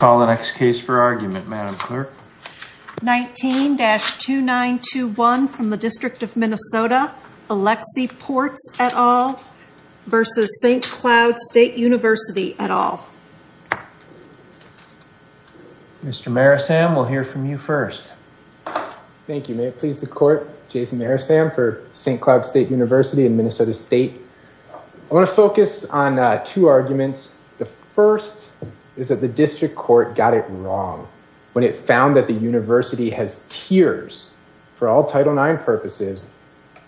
Call the next case for argument, Madam Clerk. 19-2921 from the District of Minnesota, Alexi Portz et al. v. St. Cloud State University et al. Mr. Marisam, we'll hear from you first. Thank you. May it please the Court, Jason Marisam for St. Cloud State University and Minnesota State. I want to focus on two arguments. The first is that the district court got it wrong when it found that the university has tiers for all Title IX purposes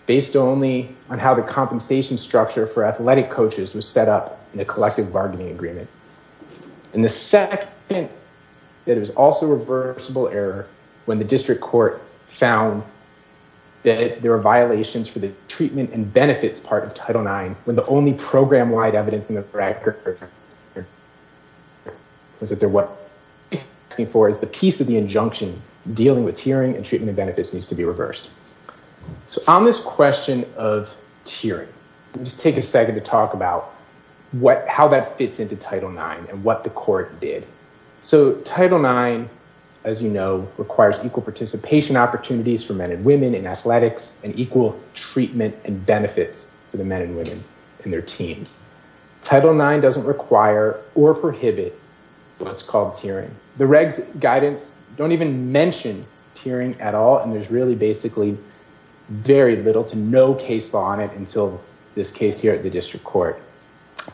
based only on how the compensation structure for athletic coaches was set up in a collective bargaining agreement. And the second is that it was also a reversible error when the district court found that there were violations for the treatment and benefits part of Title IX when the only program-wide evidence in the record was that what they're asking for is the piece of the injunction dealing with tiering and treatment and benefits needs to be reversed. So on this question of tiering, let's take a second to talk about how that fits into Title IX and what the court did. So Title IX, as you know, requires equal participation opportunities for men and women in athletics and equal treatment and benefits for the men and women in their teams. Title IX doesn't require or prohibit what's called tiering. The regs guidance don't even mention tiering at all, and there's really basically very little to no case law on it until this case here at the district court.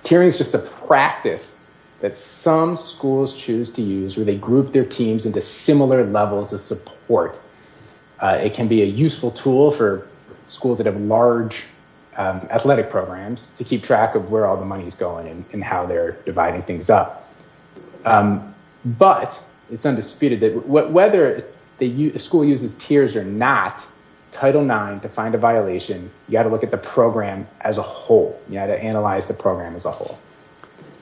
Tiering is just a practice that some schools choose to use where they group their teams into similar levels of support. It can be a useful tool for schools that have large athletic programs to keep track of where all the money is going and how they're dividing things up. But it's undisputed that whether the school uses tiers or not, Title IX, to find a violation, you've got to look at the program as a whole. You've got to analyze the program as a whole.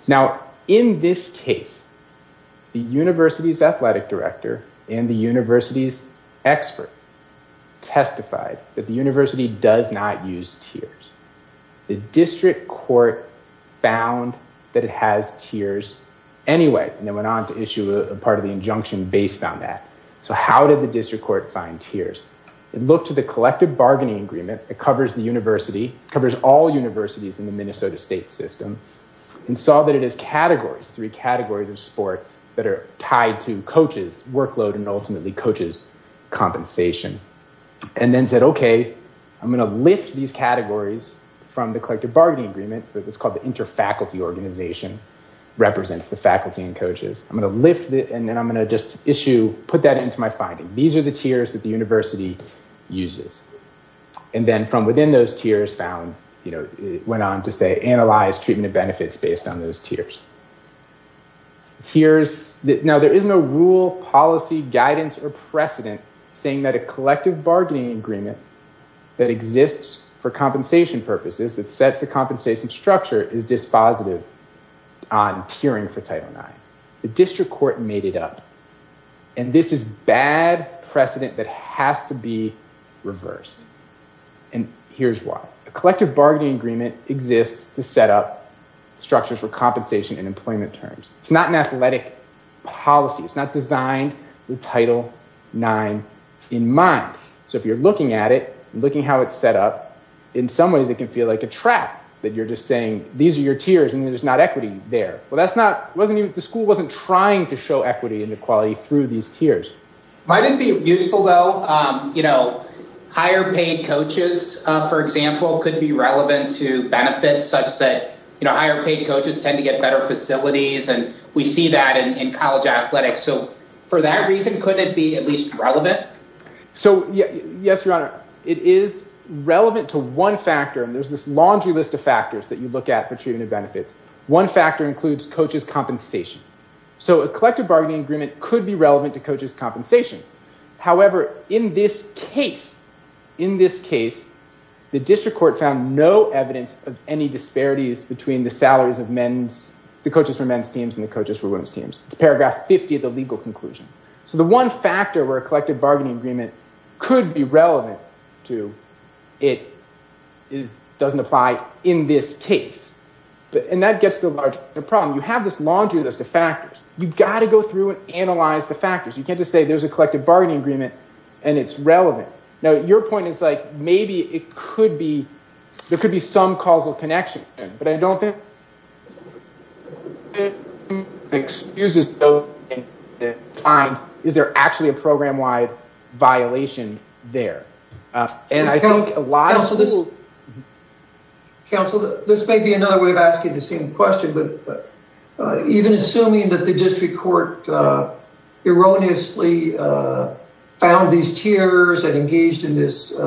Now, in this case, the university's athletic director and the university's expert testified that the university does not use tiers. The district court found that it has tiers anyway and then went on to issue a part of the injunction based on that. So how did the district court find tiers? It looked to the collective bargaining agreement that covers the university, covers all universities in the Minnesota state system, and saw that it has categories, three categories of sports that are tied to coaches, workload, and ultimately coaches' compensation. And then said, okay, I'm going to lift these categories from the collective bargaining agreement that's called the inter-faculty organization, represents the faculty and coaches. I'm going to lift it, and then I'm going to just issue, put that into my finding. These are the tiers that the university uses. And then from within those tiers found, it went on to say, analyze treatment and benefits based on those tiers. Now, there is no rule, policy, guidance, or precedent saying that a collective bargaining agreement that exists for compensation purposes, that sets the compensation structure, is dispositive on tiering for Title IX. The district court made it up. And this is bad precedent that has to be reversed. And here's why. A collective bargaining agreement exists to set up structures for compensation and employment terms. It's not an athletic policy. It's not designed with Title IX in mind. So if you're looking at it, looking how it's set up, in some ways it can feel like a trap, that you're just saying, these are your tiers and there's not equity there. The school wasn't trying to show equity and equality through these tiers. Might it be useful, though, higher paid coaches, for example, could be relevant to benefits such that higher paid coaches tend to get better facilities, and we see that in college athletics. So for that reason, could it be at least relevant? So, yes, Your Honor. It is relevant to one factor, and there's this laundry list of factors that you look at for treatment and benefits. One factor includes coaches' compensation. So a collective bargaining agreement could be relevant to coaches' compensation. However, in this case, the district court found no evidence of any disparities between the salaries of the coaches for men's teams and the coaches for women's teams. It's paragraph 50 of the legal conclusion. So the one factor where a collective bargaining agreement could be relevant to, it doesn't apply in this case. And that gets to the larger problem. You have this laundry list of factors. You've got to go through and analyze the factors. You can't just say there's a collective bargaining agreement and it's relevant. Now, your point is, like, maybe it could be, there could be some causal connection, but I don't think it excuses those things to find, is there actually a program-wide violation there? Counsel, this may be another way of asking the same question, but even assuming that the district court erroneously found these tiers and engaged in this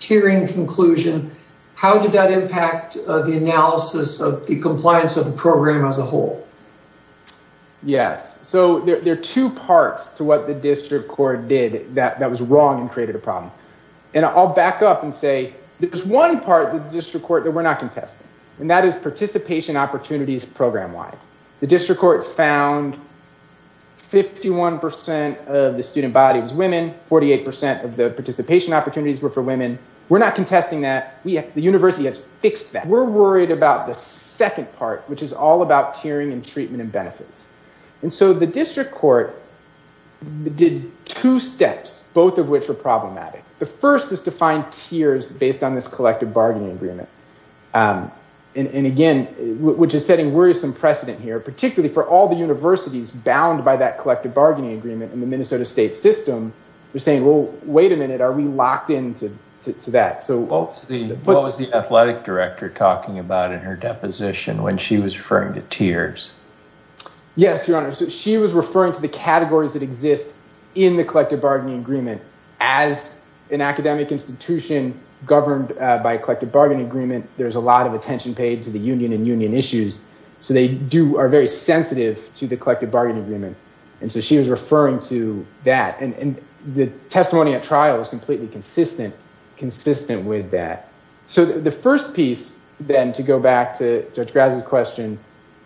tiering conclusion, how did that impact the analysis of the compliance of the program as a whole? Yes. So there are two parts to what the district court did that was wrong and created a problem. And I'll back up and say there's one part of the district court that we're not contesting, and that is participation opportunities program-wide. The district court found 51 percent of the student body was women, 48 percent of the participation opportunities were for women. We're not contesting that. The university has fixed that. We're worried about the second part, which is all about tiering and treatment and benefits. And so the district court did two steps, both of which were problematic. The first is to find tiers based on this collective bargaining agreement. And, again, which is setting worrisome precedent here, particularly for all the universities bound by that collective bargaining agreement in the Minnesota state system. They're saying, well, wait a minute, are we locked into that? What was the athletic director talking about in her deposition when she was referring to tiers? Yes, Your Honor, she was referring to the categories that exist in the collective bargaining agreement. As an academic institution governed by a collective bargaining agreement, there's a lot of attention paid to the union and union issues. So they are very sensitive to the collective bargaining agreement. And so she was referring to that. And the testimony at trial is completely consistent with that. So the first piece, then, to go back to Judge Grazza's question,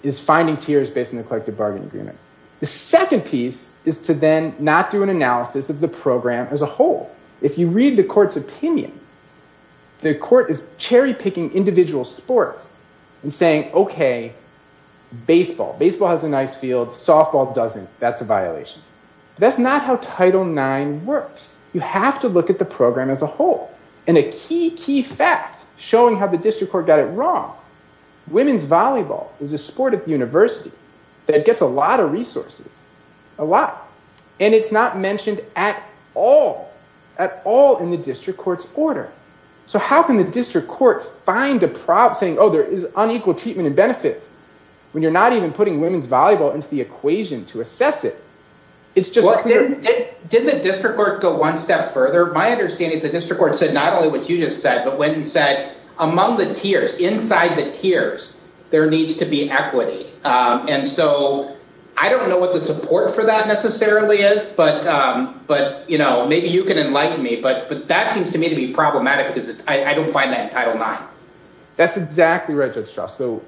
is finding tiers based on the collective bargaining agreement. The second piece is to then not do an analysis of the program as a whole. If you read the court's opinion, the court is cherry picking individual sports and saying, okay, baseball. Baseball has a nice field. Softball doesn't. That's a violation. That's not how Title IX works. You have to look at the program as a whole. And a key, key fact showing how the district court got it wrong, women's volleyball is a sport at the university that gets a lot of resources, a lot. And it's not mentioned at all, at all in the district court's order. So how can the district court find a problem saying, oh, there is unequal treatment and benefits when you're not even putting women's volleyball into the equation to assess it? Didn't the district court go one step further? My understanding is the district court said not only what you just said, but went and said, among the tiers, inside the tiers, there needs to be equity. And so I don't know what the support for that necessarily is, but, you know, maybe you can enlighten me. But that seems to me to be problematic because I don't find that in Title IX. That's exactly right, Judge Strauss. So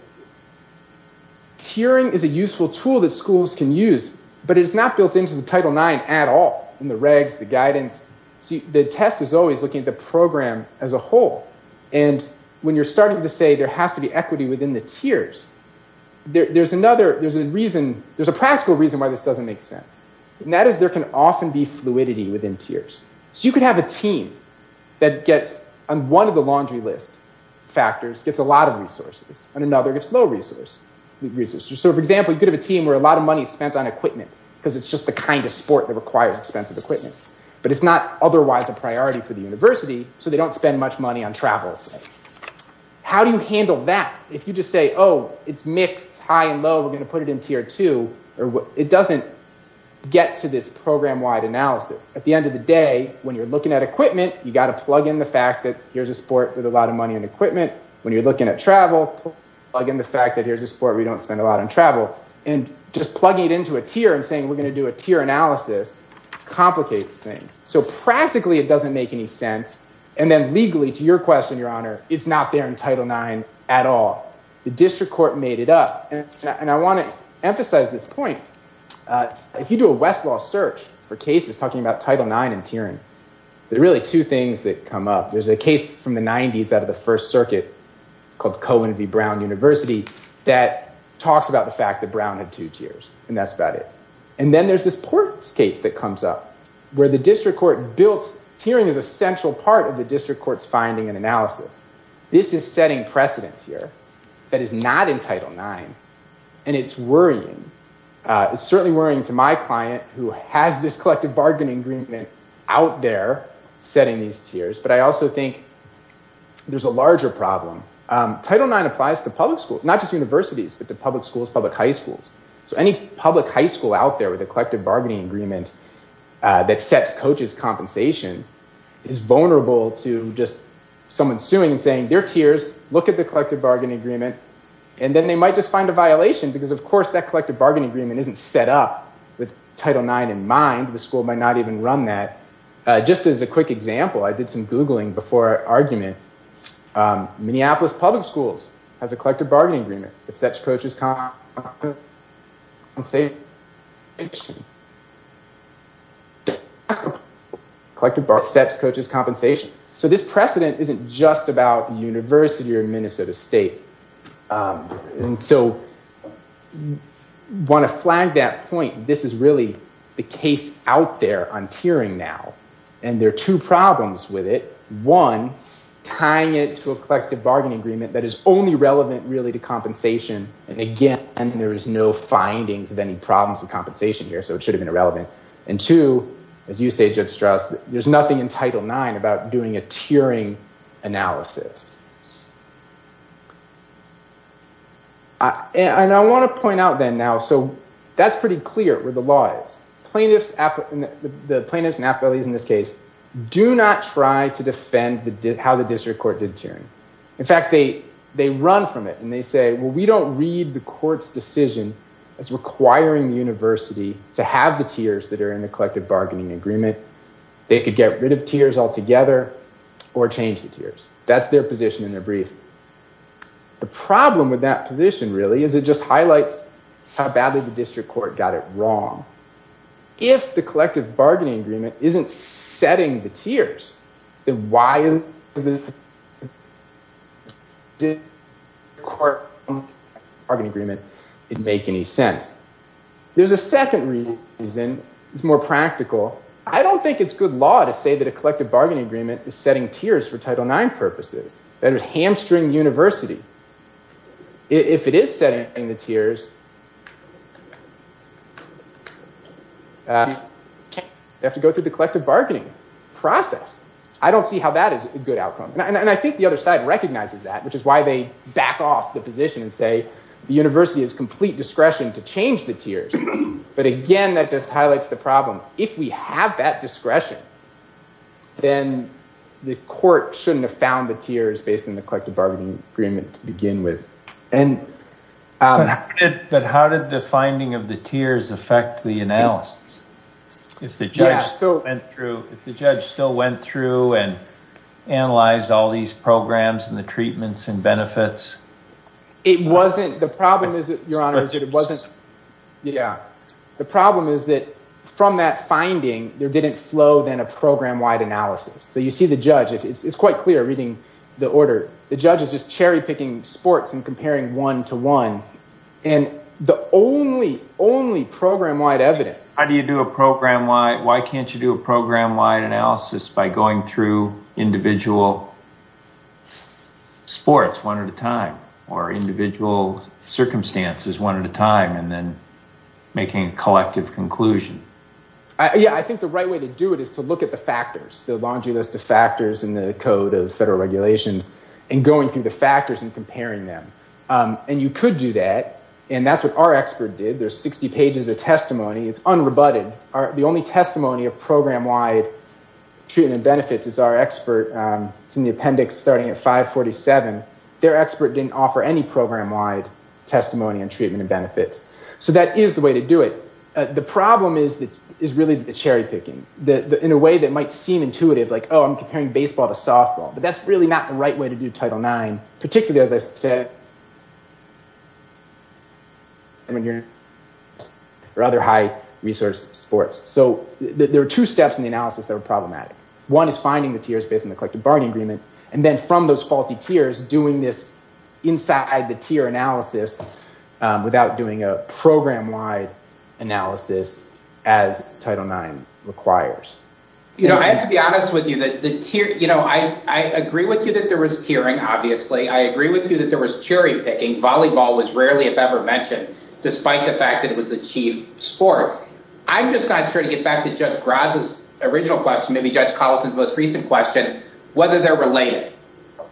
tiering is a useful tool that schools can use, but it's not built into the Title IX at all in the regs, the guidance. The test is always looking at the program as a whole. And when you're starting to say there has to be equity within the tiers, there's another, there's a reason, there's a practical reason why this doesn't make sense. And that is there can often be fluidity within tiers. So you could have a team that gets, on one of the laundry list factors, gets a lot of resources, and another gets low resources. So, for example, you could have a team where a lot of money is spent on equipment because it's just the kind of sport that requires expensive equipment. But it's not otherwise a priority for the university, so they don't spend much money on travel. How do you handle that if you just say, oh, it's mixed, high and low, we're going to put it in tier two? It doesn't get to this program-wide analysis. At the end of the day, when you're looking at equipment, you've got to plug in the fact that here's a sport with a lot of money and equipment. When you're looking at travel, plug in the fact that here's a sport where you don't spend a lot on travel. And just plugging it into a tier and saying we're going to do a tier analysis complicates things. So practically it doesn't make any sense. And then legally, to your question, Your Honor, it's not there in Title IX at all. The district court made it up. And I want to emphasize this point. If you do a Westlaw search for cases talking about Title IX and tiering, there are really two things that come up. There's a case from the 90s out of the First Circuit called Cohen v. Brown University that talks about the fact that Brown had two tiers. And that's about it. And then there's this Ports case that comes up where the district court built tiering as a central part of the district court's finding and analysis. This is setting precedents here that is not in Title IX. And it's worrying. It's certainly worrying to my client who has this collective bargaining agreement out there setting these tiers. But I also think there's a larger problem. Title IX applies to public schools, not just universities, but to public schools, public high schools. So any public high school out there with a collective bargaining agreement that sets coaches' compensation is vulnerable to just someone suing and saying, They're tiers. Look at the collective bargaining agreement. And then they might just find a violation because, of course, that collective bargaining agreement isn't set up with Title IX in mind. The school might not even run that. Just as a quick example, I did some Googling before argument. Minneapolis Public Schools has a collective bargaining agreement that sets coaches' compensation. So this precedent isn't just about the university or Minnesota State. And so I want to flag that point. This is really the case out there on tiering now. And there are two problems with it. One, tying it to a collective bargaining agreement that is only relevant really to compensation. And again, there is no findings of any problems with compensation here, so it should have been irrelevant. And two, as you say, Judge Strauss, there's nothing in Title IX about doing a tiering analysis. And I want to point out then now, so that's pretty clear where the law is. The plaintiffs and appellees in this case do not try to defend how the district court did tiering. In fact, they run from it and they say, well, we don't read the court's decision as requiring the university to have the tiers that are in the collective bargaining agreement. They could get rid of tiers altogether or change the tiers. That's their position in their brief. The problem with that position really is it just highlights how badly the district court got it wrong. If the collective bargaining agreement isn't setting the tiers, then why is the district court bargaining agreement didn't make any sense? There's a second reason. It's more practical. I don't think it's good law to say that a collective bargaining agreement is setting tiers for Title IX purposes. That is hamstring the university. If it is setting the tiers, you have to go through the collective bargaining process. I don't see how that is a good outcome. And I think the other side recognizes that, which is why they back off the position and say the university has complete discretion to change the tiers. But again, that just highlights the problem. If we have that discretion, then the court shouldn't have found the tiers based on the collective bargaining agreement to begin with. But how did the finding of the tiers affect the analysis? If the judge still went through and analyzed all these programs and the treatments and benefits? The problem is that from that finding, there didn't flow then a program-wide analysis. So you see the judge. It's quite clear reading the order. The judge is just cherry-picking sports and comparing one to one. And the only, only program-wide evidence… Why can't you do a program-wide analysis by going through individual sports one at a time or individual circumstances one at a time and then making a collective conclusion? Yeah, I think the right way to do it is to look at the factors, the laundry list of factors in the Code of Federal Regulations, and going through the factors and comparing them. And you could do that. And that's what our expert did. There's 60 pages of testimony. It's unrebutted. The only testimony of program-wide treatment benefits is our expert. It's in the appendix starting at 547. Their expert didn't offer any program-wide testimony on treatment and benefits. So that is the way to do it. The problem is really the cherry-picking in a way that might seem intuitive, like, oh, I'm comparing baseball to softball. But that's really not the right way to do Title IX, particularly as I said… I'm hearing rather high-resource sports. So there are two steps in the analysis that are problematic. One is finding the tiers based on the collective bargaining agreement, and then from those faulty tiers, doing this inside the tier analysis without doing a program-wide analysis as Title IX requires. You know, I have to be honest with you. I agree with you that there was tiering, obviously. I agree with you that there was cherry-picking. Volleyball was rarely, if ever, mentioned, despite the fact that it was the chief sport. I'm just not sure, to get back to Judge Graz's original question, maybe Judge Colleton's most recent question, whether they're related.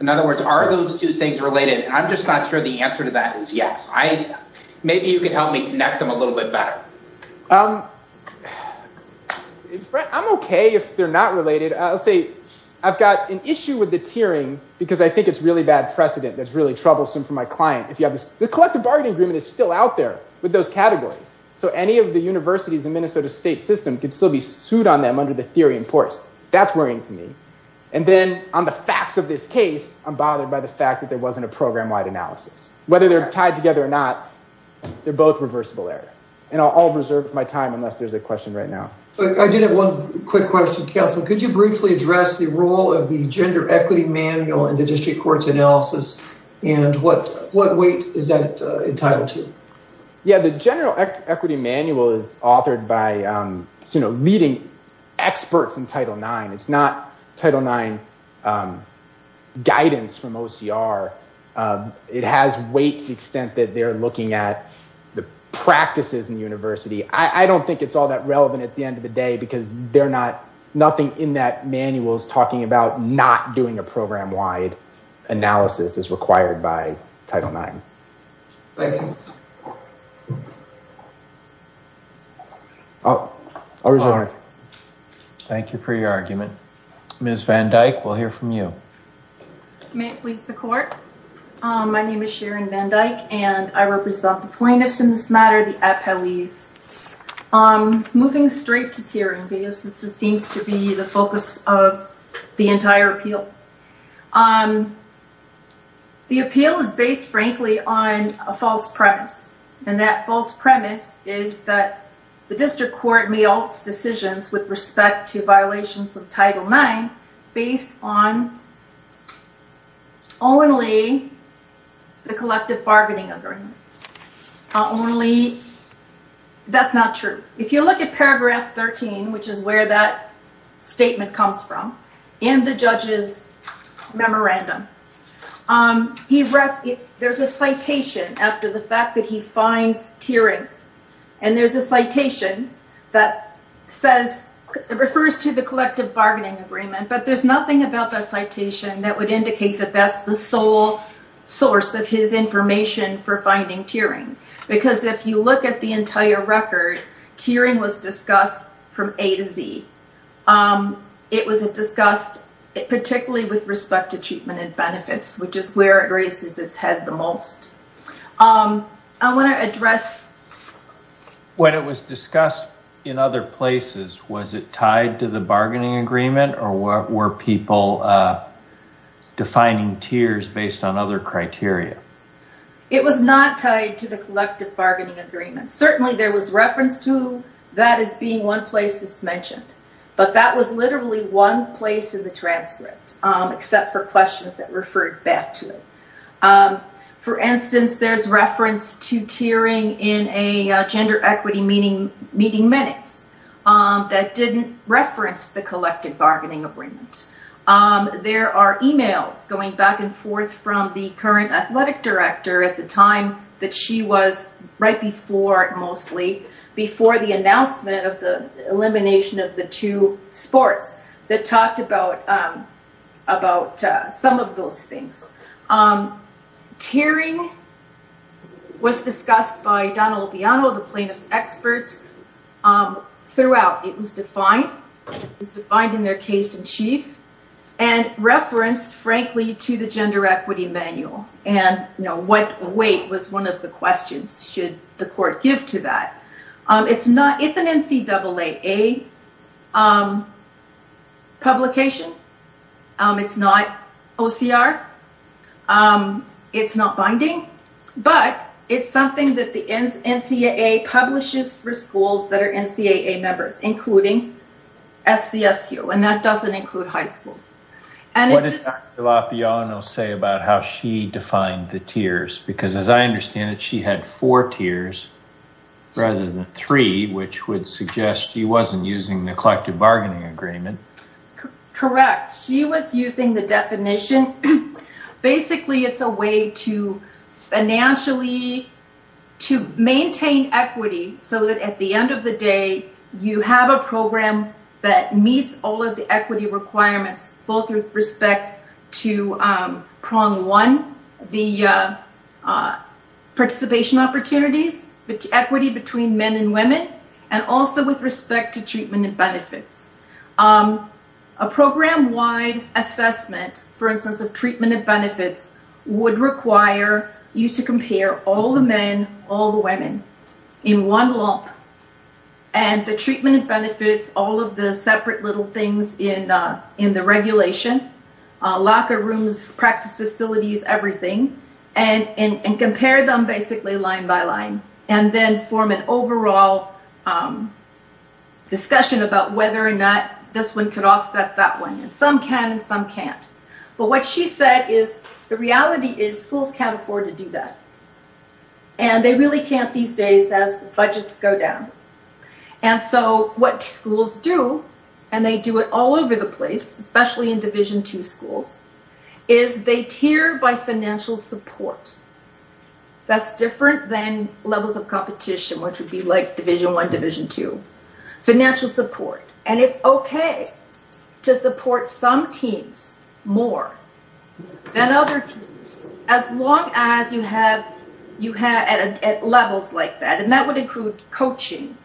In other words, are those two things related? And I'm just not sure the answer to that is yes. Maybe you can help me connect them a little bit better. I'm okay if they're not related. I'll say I've got an issue with the tiering because I think it's really bad precedent that's really troublesome for my client. The collective bargaining agreement is still out there with those categories, so any of the universities in Minnesota's state system could still be sued on them under the theory in force. That's worrying to me. And then on the facts of this case, I'm bothered by the fact that there wasn't a program-wide analysis. Whether they're tied together or not, they're both reversible error, and I'll reserve my time unless there's a question right now. I do have one quick question, counsel. Could you briefly address the role of the gender equity manual in the district court's analysis, and what weight is that entitled to? Yeah, the general equity manual is authored by leading experts in Title IX. It's not Title IX guidance from OCR. It has weight to the extent that they're looking at the practices in the university. I don't think it's all that relevant at the end of the day because nothing in that manual is talking about not doing a program-wide analysis as required by Title IX. Thank you. I'll reserve it. Thank you for your argument. Ms. Van Dyke, we'll hear from you. May it please the court? My name is Sharon Van Dyke, and I represent the plaintiffs in this matter, the appellees. Moving straight to tiering, because this seems to be the focus of the entire appeal, the appeal is based, frankly, on a false premise. And that false premise is that the district court may alter decisions with respect to violations of Title IX based on only the collective bargaining agreement. Only, that's not true. If you look at paragraph 13, which is where that statement comes from, in the judge's memorandum, there's a citation after the fact that he finds tiering. And there's a citation that refers to the collective bargaining agreement, but there's nothing about that citation that would indicate that that's the sole source of his information for finding tiering. Because if you look at the entire record, tiering was discussed from A to Z. It was discussed particularly with respect to treatment and benefits, which is where it raises its head the most. I want to address... When it was discussed in other places, was it tied to the bargaining agreement, or were people defining tiers based on other criteria? It was not tied to the collective bargaining agreement. Certainly, there was reference to that as being one place that's mentioned, but that was literally one place in the transcript, except for questions that referred back to it. For instance, there's reference to tiering in a gender equity meeting minutes that didn't reference the collective bargaining agreement. There are emails going back and forth from the current athletic director at the time that she was... Right before, mostly, before the announcement of the elimination of the two sports that talked about some of those things. Tiering was discussed by Donna Lupiano, the plaintiff's experts, throughout. It was defined in their case in chief and referenced, frankly, to the gender equity manual. What weight was one of the questions, should the court give to that? It's an NCAA publication. It's not OCR. It's not binding. It's something that the NCAA publishes for schools that are NCAA members, including SCSU. That doesn't include high schools. What did Donna Lupiano say about how she defined the tiers? As I understand it, she had four tiers rather than three, which would suggest she wasn't using the collective bargaining agreement. Correct. She was using the definition. Basically, it's a way to financially maintain equity so that, at the end of the day, you have a program that meets all of the equity requirements, both with respect to prong one, the participation opportunities, equity between men and women, and also with respect to treatment and benefits. A program-wide assessment, for instance, of treatment and benefits would require you to compare all the men, all the women, in one lump, and the treatment and benefits, all of the separate little things in the regulation, locker rooms, practice facilities, everything, and compare them basically line by line and then form an overall discussion about whether or not this one could offset that one. Some can and some can't. What she said is the reality is schools can't afford to do that. They really can't these days as budgets go down. What schools do, and they do it all over the place, especially in Division II schools, is they tier by financial support. That's different than levels of competition, which would be like Division I, Division II. Financial support. It's okay to support some teams more than other teams as long as you have levels like that. That would include coaching.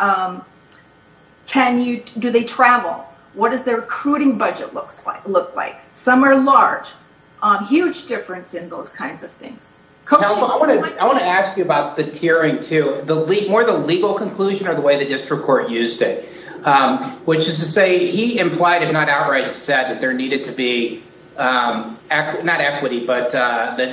Do they travel? What does their recruiting budget look like? Some are large. Huge difference in those kinds of things. I want to ask you about the tiering, too. More the legal conclusion or the way the district court used it, which is to say he implied, if not outright said, that there needed to be, not equity, but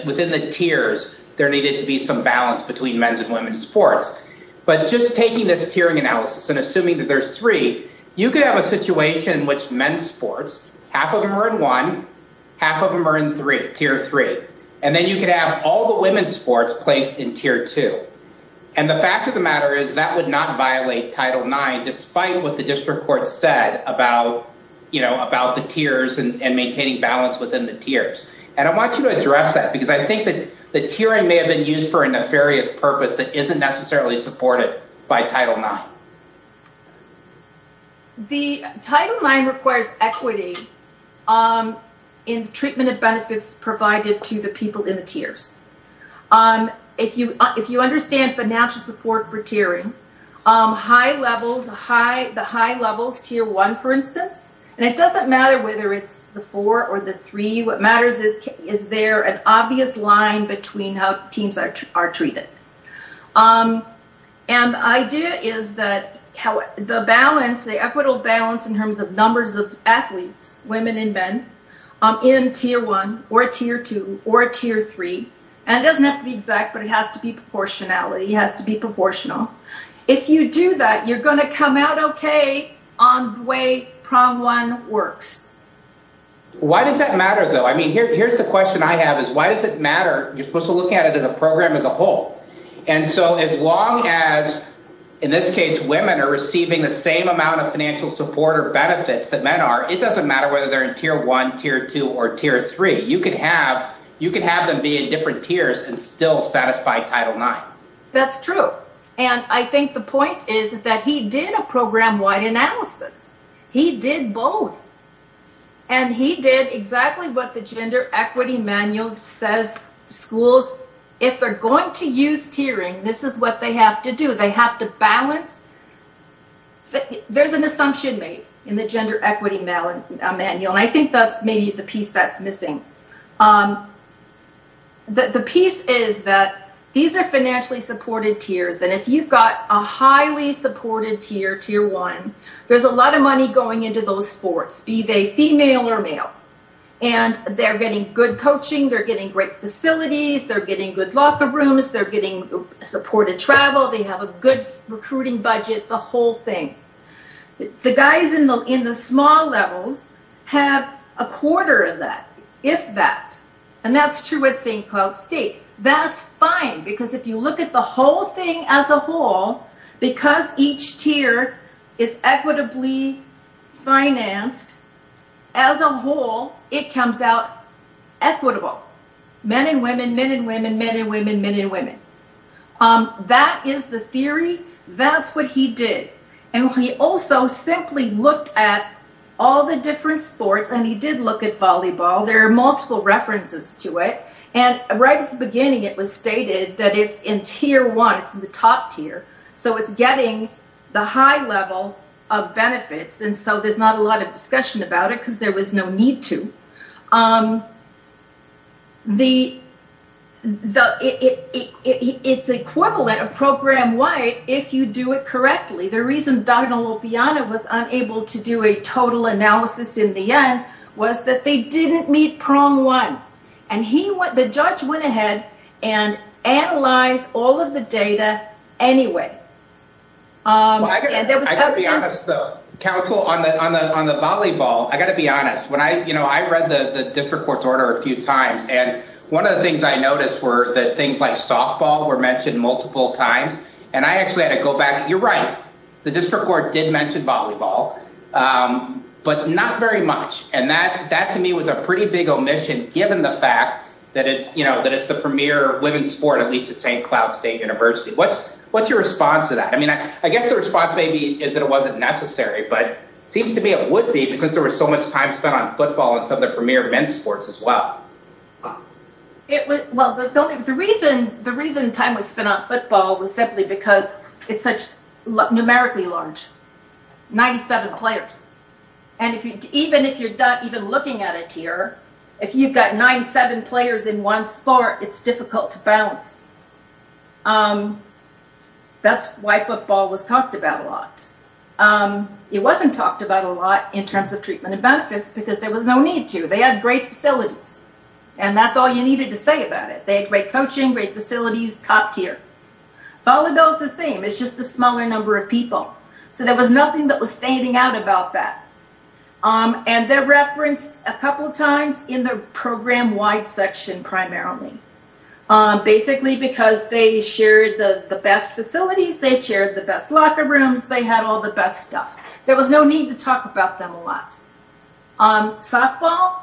within the tiers, there needed to be some balance between men's and women's sports. But just taking this tiering analysis and assuming that there's three, you could have a situation in which men's sports, half of them are in one, half of them are in three, tier three. And then you could have all the women's sports placed in tier two. And the fact of the matter is that would not violate Title IX, despite what the district court said about the tiers and maintaining balance within the tiers. And I want you to address that because I think that the tiering may have been used for a nefarious purpose that isn't necessarily supported by Title IX. The Title IX requires equity in the treatment and benefits provided to the people in the tiers. If you understand financial support for tiering, high levels, the high levels, tier one, for instance, and it doesn't matter whether it's the four or the three. What matters is, is there an obvious line between how teams are treated? And the idea is that the balance, the equitable balance in terms of numbers of athletes, women and men, in tier one or tier two or tier three. And it doesn't have to be exact, but it has to be proportionality. It has to be proportional. If you do that, you're going to come out okay on the way prong one works. Why does that matter, though? I mean, here's the question I have is why does it matter? You're supposed to look at it as a program as a whole. And so as long as, in this case, women are receiving the same amount of financial support or benefits that men are. It doesn't matter whether they're in tier one, tier two or tier three. You can have you can have them be at different tiers and still satisfy Title IX. That's true. And I think the point is that he did a program wide analysis. He did both. And he did exactly what the gender equity manual says. Schools, if they're going to use tiering, this is what they have to do. They have to balance. There's an assumption made in the gender equity manual. And I think that's maybe the piece that's missing. The piece is that these are financially supported tiers. And if you've got a highly supported tier, tier one, there's a lot of money going into those sports. Be they female or male. And they're getting good coaching. They're getting great facilities. They're getting good locker rooms. They're getting supported travel. They have a good recruiting budget. The whole thing. The guys in the small levels have a quarter of that, if that. And that's true at St. Cloud State. That's fine, because if you look at the whole thing as a whole, because each tier is equitably financed, as a whole, it comes out equitable. Men and women, men and women, men and women, men and women. That is the theory. That's what he did. And he also simply looked at all the different sports. And he did look at volleyball. There are multiple references to it. And right at the beginning, it was stated that it's in tier one. It's in the top tier. So it's getting the high level of benefits. And so there's not a lot of discussion about it, because there was no need to. It's equivalent, program-wide, if you do it correctly. The reason Donald Lopiano was unable to do a total analysis in the end was that they didn't meet prong one. And the judge went ahead and analyzed all of the data anyway. Counsel, on the volleyball, I got to be honest. I read the district court's order a few times. And one of the things I noticed were that things like softball were mentioned multiple times. And I actually had to go back. You're right. The district court did mention volleyball, but not very much. And that, to me, was a pretty big omission, given the fact that it's the premier women's sport, at least at St. Cloud State University. What's your response to that? I mean, I guess the response maybe is that it wasn't necessary. But it seems to me it would be, since there was so much time spent on football and some of the premier men's sports as well. The reason time was spent on football was simply because it's numerically large. 97 players. And even if you're not even looking at a tier, if you've got 97 players in one sport, it's difficult to balance. That's why football was talked about a lot. It wasn't talked about a lot in terms of treatment and benefits because there was no need to. They had great facilities. And that's all you needed to say about it. They had great coaching, great facilities, top tier. Volleyball is the same. It's just a smaller number of people. So there was nothing that was standing out about that. And they're referenced a couple of times in the program-wide section, primarily. Basically because they shared the best facilities, they shared the best locker rooms, they had all the best stuff. There was no need to talk about them a lot. Softball,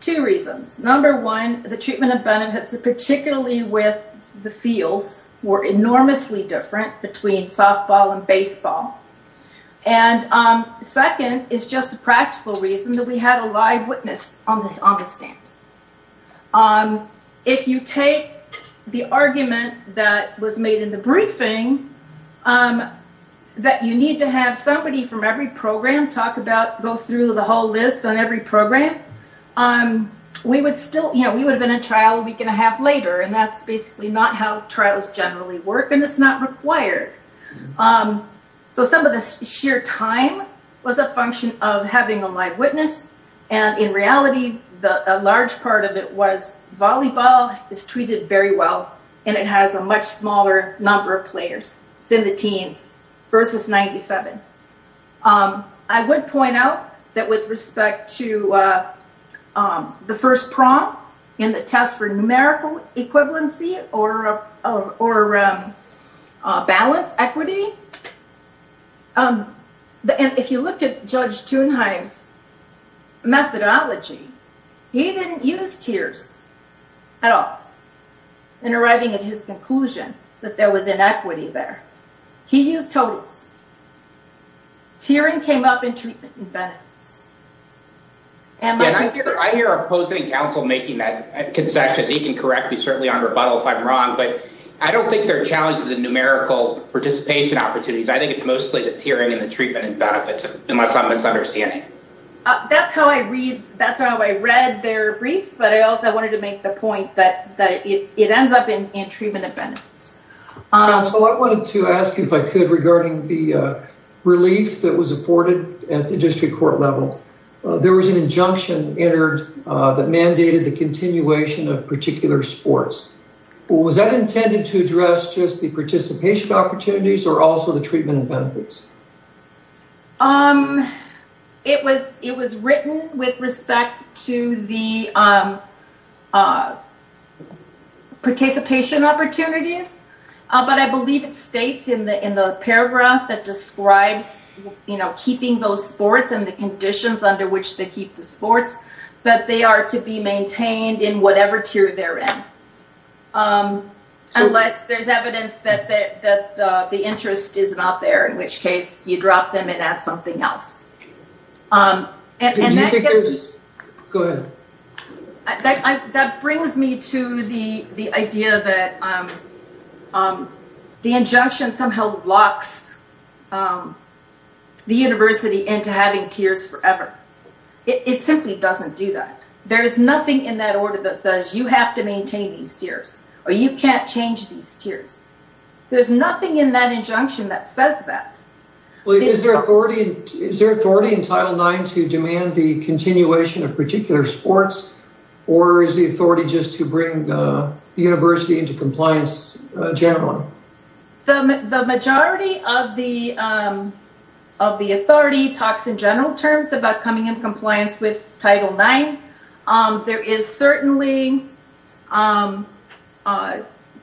two reasons. Number one, the treatment and benefits, particularly with the fields, were enormously different between softball and baseball. And second is just a practical reason that we had a live witness on the stand. If you take the argument that was made in the briefing, that you need to have somebody from every program talk about, go through the whole list on every program. We would have been in trial a week and a half later. And that's basically not how trials generally work. And it's not required. So some of the sheer time was a function of having a live witness. And in reality, a large part of it was volleyball is treated very well and it has a much smaller number of players. It's in the teens versus 97. I would point out that with respect to the first prompt in the test for numerical equivalency or balance equity. If you look at Judge Thunheim's methodology, he didn't use tiers at all in arriving at his conclusion that there was inequity there. He used totals. Tiering came up in treatment and benefits. I hear our opposing counsel making that concession. He can correct me certainly on rebuttal if I'm wrong. But I don't think they're challenging the numerical participation opportunities. I think it's mostly the tiering and the treatment and benefits, unless I'm misunderstanding. That's how I read their brief. But I also wanted to make the point that it ends up in treatment and benefits. I wanted to ask you if I could regarding the relief that was afforded at the district court level. There was an injunction entered that mandated the continuation of particular sports. Was that intended to address just the participation opportunities or also the treatment and benefits? It was written with respect to the participation opportunities. But I believe it states in the paragraph that describes keeping those sports and the conditions under which they keep the sports that they are to be maintained in whatever tier they're in. Unless there's evidence that the interest is not there, in which case you drop them and add something else. That brings me to the idea that the injunction somehow locks the university into having tiers forever. It simply doesn't do that. There is nothing in that order that says you have to maintain these tiers or you can't change these tiers. There's nothing in that injunction that says that. Is there authority in Title IX to demand the continuation of particular sports or is the authority just to bring the university into compliance generally? The majority of the authority talks in general terms about coming in compliance with Title IX.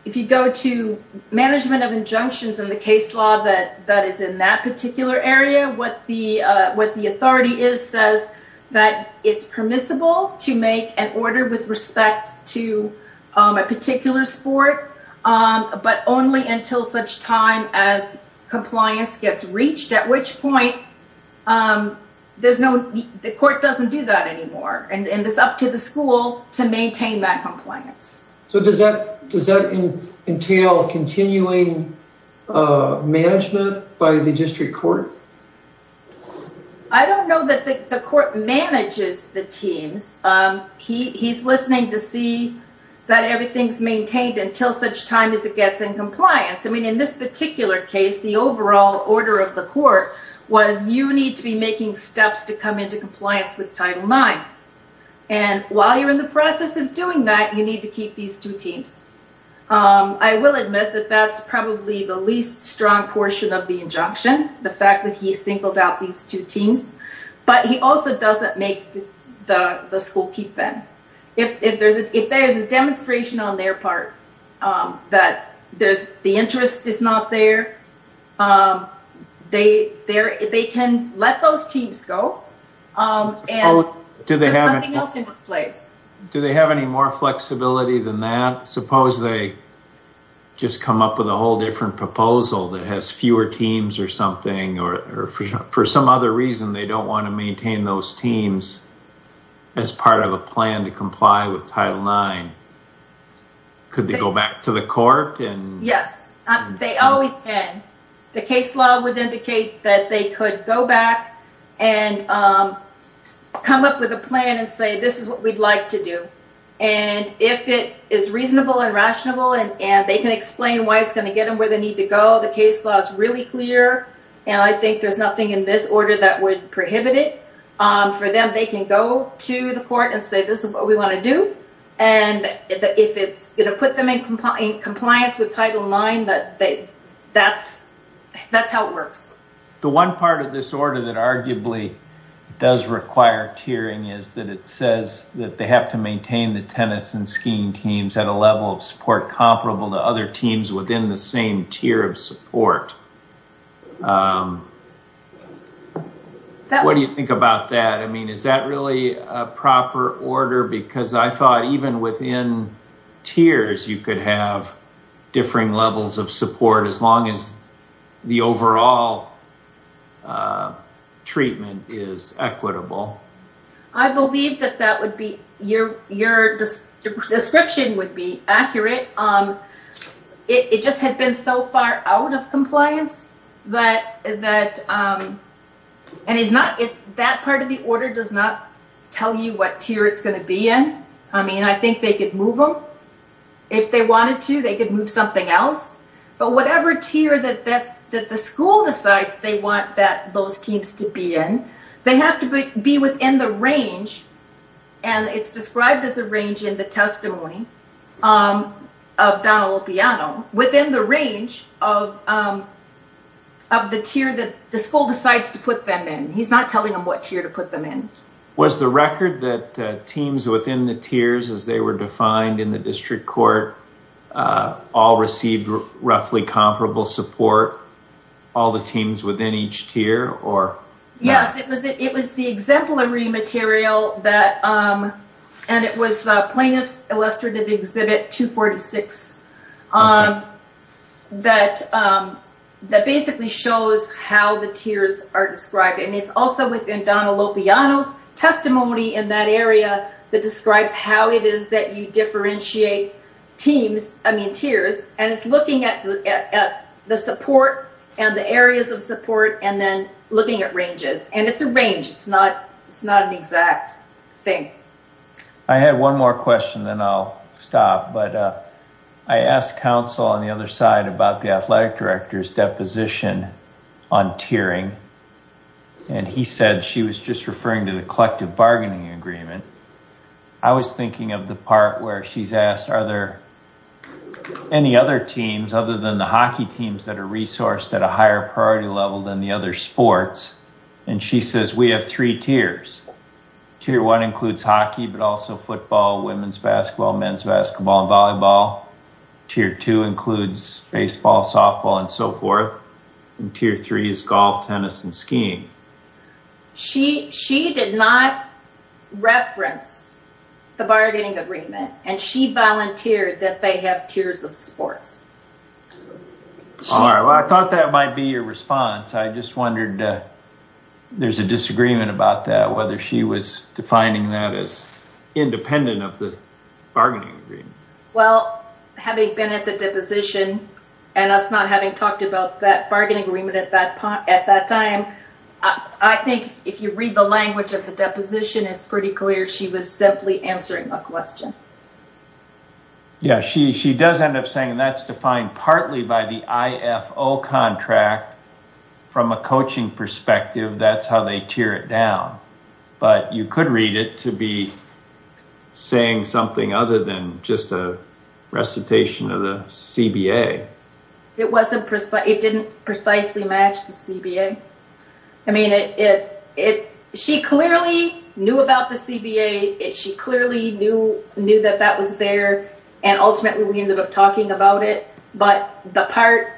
If you go to management of injunctions in the case law that is in that particular area, what the authority says is that it's permissible to make an order with respect to a particular sport. But only until such time as compliance gets reached, at which point the court doesn't do that anymore. It's up to the school to maintain that compliance. Does that entail continuing management by the district court? I don't know that the court manages the teams. He's listening to see that everything's maintained until such time as it gets in compliance. In this particular case, the overall order of the court was you need to be making steps to come into compliance with Title IX. And while you're in the process of doing that, you need to keep these two teams. I will admit that that's probably the least strong portion of the injunction, the fact that he singled out these two teams. But he also doesn't make the school keep them. If there's a demonstration on their part that the interest is not there, they can let those teams go and do something else in this place. Do they have any more flexibility than that? Suppose they just come up with a whole different proposal that has fewer teams or something, or for some other reason, they don't want to maintain those teams as part of a plan to comply with Title IX. Could they go back to the court? Yes, they always can. The case law would indicate that they could go back and come up with a plan and say, this is what we'd like to do. And if it is reasonable and rational and they can explain why it's going to get them where they need to go, the case law is really clear. And I think there's nothing in this order that would prohibit it for them. They can go to the court and say, this is what we want to do. And if it's going to put them in compliance with Title IX, that's how it works. The one part of this order that arguably does require tiering is that it says that they have to maintain the tennis and skiing teams at a level of support comparable to other teams within the same tier of support. What do you think about that? I mean, is that really a proper order? Because I thought even within tiers, you could have differing levels of support as long as the overall treatment is equitable. I believe that your description would be accurate. It just had been so far out of compliance that that part of the order does not tell you what tier it's going to be in. I mean, I think they could move them. If they wanted to, they could move something else. But whatever tier that the school decides they want those teams to be in, they have to be within the range. And it's described as a range in the testimony of Don Lupiano, within the range of the tier that the school decides to put them in. He's not telling them what tier to put them in. Was the record that teams within the tiers, as they were defined in the district court, all received roughly comparable support, all the teams within each tier? Yes, it was the exemplary material, and it was the Plaintiff's Illustrative Exhibit 246, that basically shows how the tiers are described. And it's also within Don Lupiano's testimony in that area that describes how it is that you differentiate tiers. And it's looking at the support and the areas of support and then looking at ranges. And it's a range. It's not an exact thing. I had one more question, then I'll stop. But I asked counsel on the other side about the athletic director's deposition on tiering, and he said she was just referring to the collective bargaining agreement. I was thinking of the part where she's asked, are there any other teams, other than the hockey teams, that are resourced at a higher priority level than the other sports? And she says, we have three tiers. Tier one includes hockey, but also football, women's basketball, men's basketball, and volleyball. Tier two includes baseball, softball, and so forth. And tier three is golf, tennis, and skiing. She did not reference the bargaining agreement, and she volunteered that they have tiers of sports. All right, well, I thought that might be your response. I just wondered, there's a disagreement about that, whether she was defining that as independent of the bargaining agreement. Well, having been at the deposition, and us not having talked about that bargaining agreement at that time, I think if you read the language of the deposition, it's pretty clear she was simply answering a question. Yeah, she does end up saying that's defined partly by the IFO contract. From a coaching perspective, that's how they tier it down. But you could read it to be saying something other than just a recitation of the CBA. It didn't precisely match the CBA. I mean, she clearly knew about the CBA. She clearly knew that that was there. And ultimately, we ended up talking about it. But the part,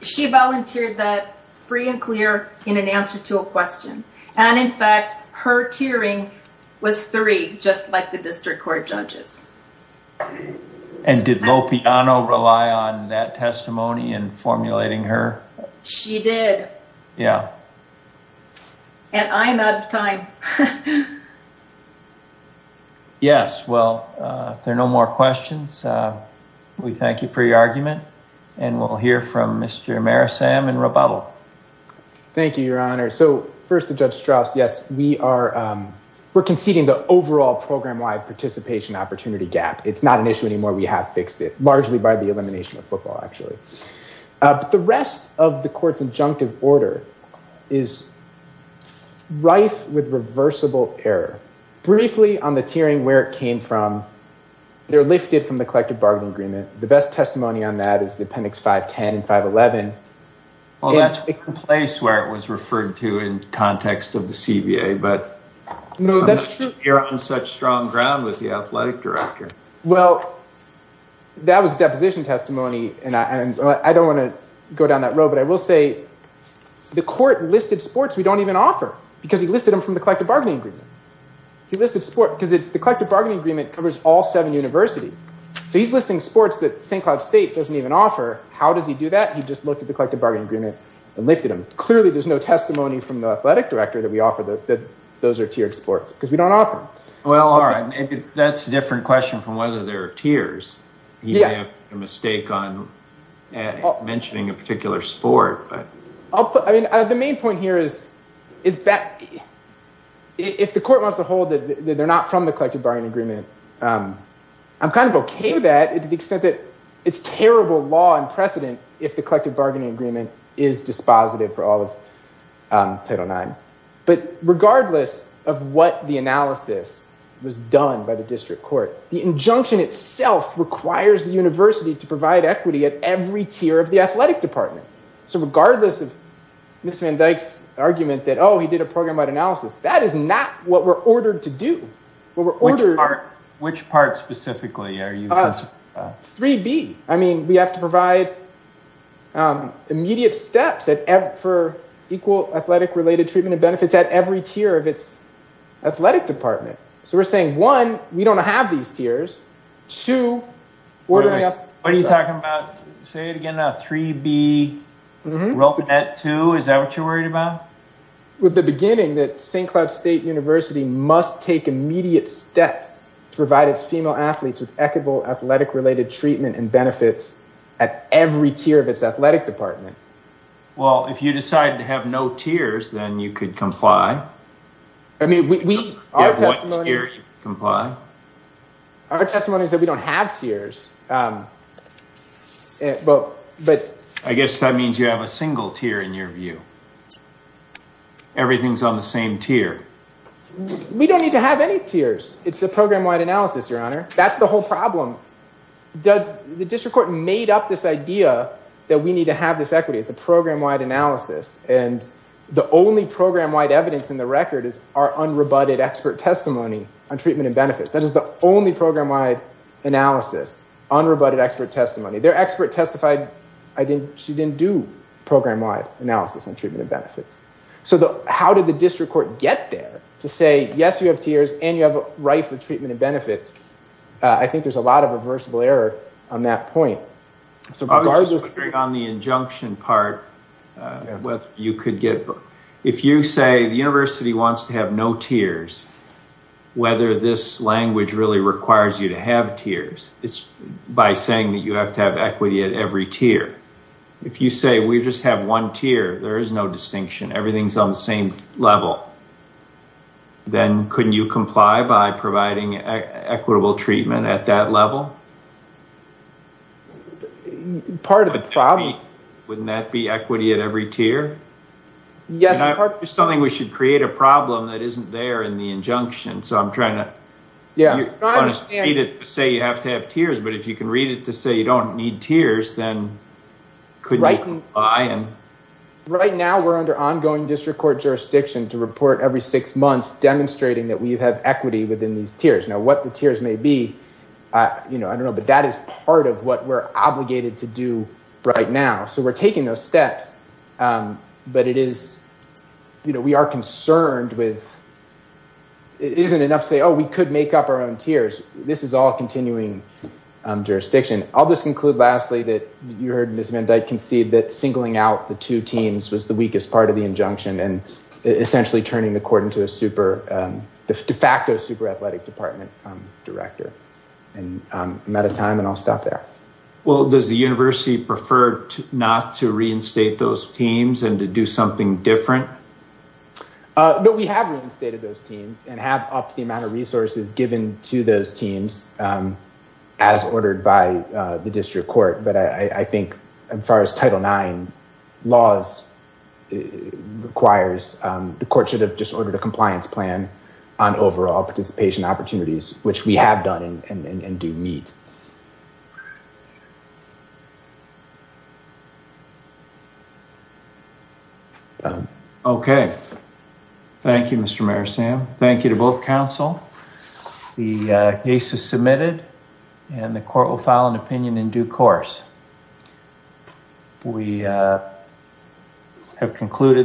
she volunteered that free and clear in an answer to a question. And in fact, her tiering was three, just like the district court judges. And did Lopiano rely on that testimony in formulating her? She did. Yeah. And I'm out of time. Yes, well, if there are no more questions, we thank you for your argument. And we'll hear from Mr. Marisam in rebuttal. Thank you, Your Honor. So first to Judge Strauss, yes, we are conceding the overall program-wide participation opportunity gap. It's not an issue anymore. We have fixed it, largely by the elimination of football, actually. But the rest of the court's injunctive order is rife with reversible error. Briefly, on the tiering, where it came from, they're lifted from the collective bargaining agreement. The best testimony on that is the Appendix 510 and 511. Well, that's the place where it was referred to in context of the CBA. But you're on such strong ground with the athletic director. Well, that was deposition testimony, and I don't want to go down that road. But I will say the court listed sports we don't even offer because he listed them from the collective bargaining agreement. He listed sports because the collective bargaining agreement covers all seven universities. So he's listing sports that St. Cloud State doesn't even offer. How does he do that? He just looked at the collective bargaining agreement and lifted them. Clearly, there's no testimony from the athletic director that we offer that those are tiered sports because we don't offer them. Well, all right. That's a different question from whether there are tiers. He may have made a mistake on mentioning a particular sport. I mean, the main point here is that if the court wants to hold that they're not from the collective bargaining agreement, I'm kind of okay with that to the extent that it's terrible law and precedent if the collective bargaining agreement is dispositive for all of Title IX. But regardless of what the analysis was done by the district court, the injunction itself requires the university to provide equity at every tier of the athletic department. So regardless of Ms. Van Dyke's argument that, oh, he did a program-wide analysis, that is not what we're ordered to do. Which part specifically are you concerned about? 3B. I mean, we have to provide immediate steps for equal athletic-related treatment and benefits at every tier of its athletic department. So we're saying, one, we don't have these tiers. Two, ordering us- Wait a minute. What are you talking about? Say it again now. 3B, we're open at two? Is that what you're worried about? With the beginning that St. Cloud State University must take immediate steps to provide its female athletes with equitable athletic-related treatment and benefits at every tier of its athletic department. Well, if you decide to have no tiers, then you could comply. I mean, our testimony- You have what tier to comply? Our testimony is that we don't have tiers. I guess that means you have a single tier in your view. Everything's on the same tier. We don't need to have any tiers. It's a program-wide analysis, Your Honor. That's the whole problem. The district court made up this idea that we need to have this equity. It's a program-wide analysis. And the only program-wide evidence in the record is our unrebutted expert testimony on treatment and benefits. That is the only program-wide analysis, unrebutted expert testimony. Their expert testified she didn't do program-wide analysis on treatment and benefits. So how did the district court get there to say, yes, you have tiers and you have a right for treatment and benefits? I think there's a lot of reversible error on that point. On the injunction part, if you say the university wants to have no tiers, whether this language really requires you to have tiers, it's by saying that you have to have equity at every tier. If you say we just have one tier, there is no distinction. Everything's on the same level. Then couldn't you comply by providing equitable treatment at that level? Part of the problem. Wouldn't that be equity at every tier? Yes. I just don't think we should create a problem that isn't there in the injunction. So I'm trying to read it to say you have to have tiers. But if you can read it to say you don't need tiers, then couldn't you comply? Right now we're under ongoing district court jurisdiction to report every six months demonstrating that we have equity within these tiers. Now, what the tiers may be, I don't know, but that is part of what we're obligated to do right now. So we're taking those steps. But we are concerned with it isn't enough to say, oh, we could make up our own tiers. This is all continuing jurisdiction. I'll just conclude lastly that you heard Ms. Van Dyke concede that singling out the two teams was the weakest part of the injunction and essentially turning the court into a super, de facto super athletic department director. I'm out of time, and I'll stop there. Well, does the university prefer not to reinstate those teams and to do something different? No, we have reinstated those teams and have upped the amount of resources given to those teams as ordered by the district court. But I think as far as Title IX laws requires, the court should have just ordered a compliance plan on overall participation opportunities, which we have done and do meet. Okay. Thank you, Mr. Marisam. Thank you to both counsel. The case is submitted, and the court will file an opinion in due course. We have concluded.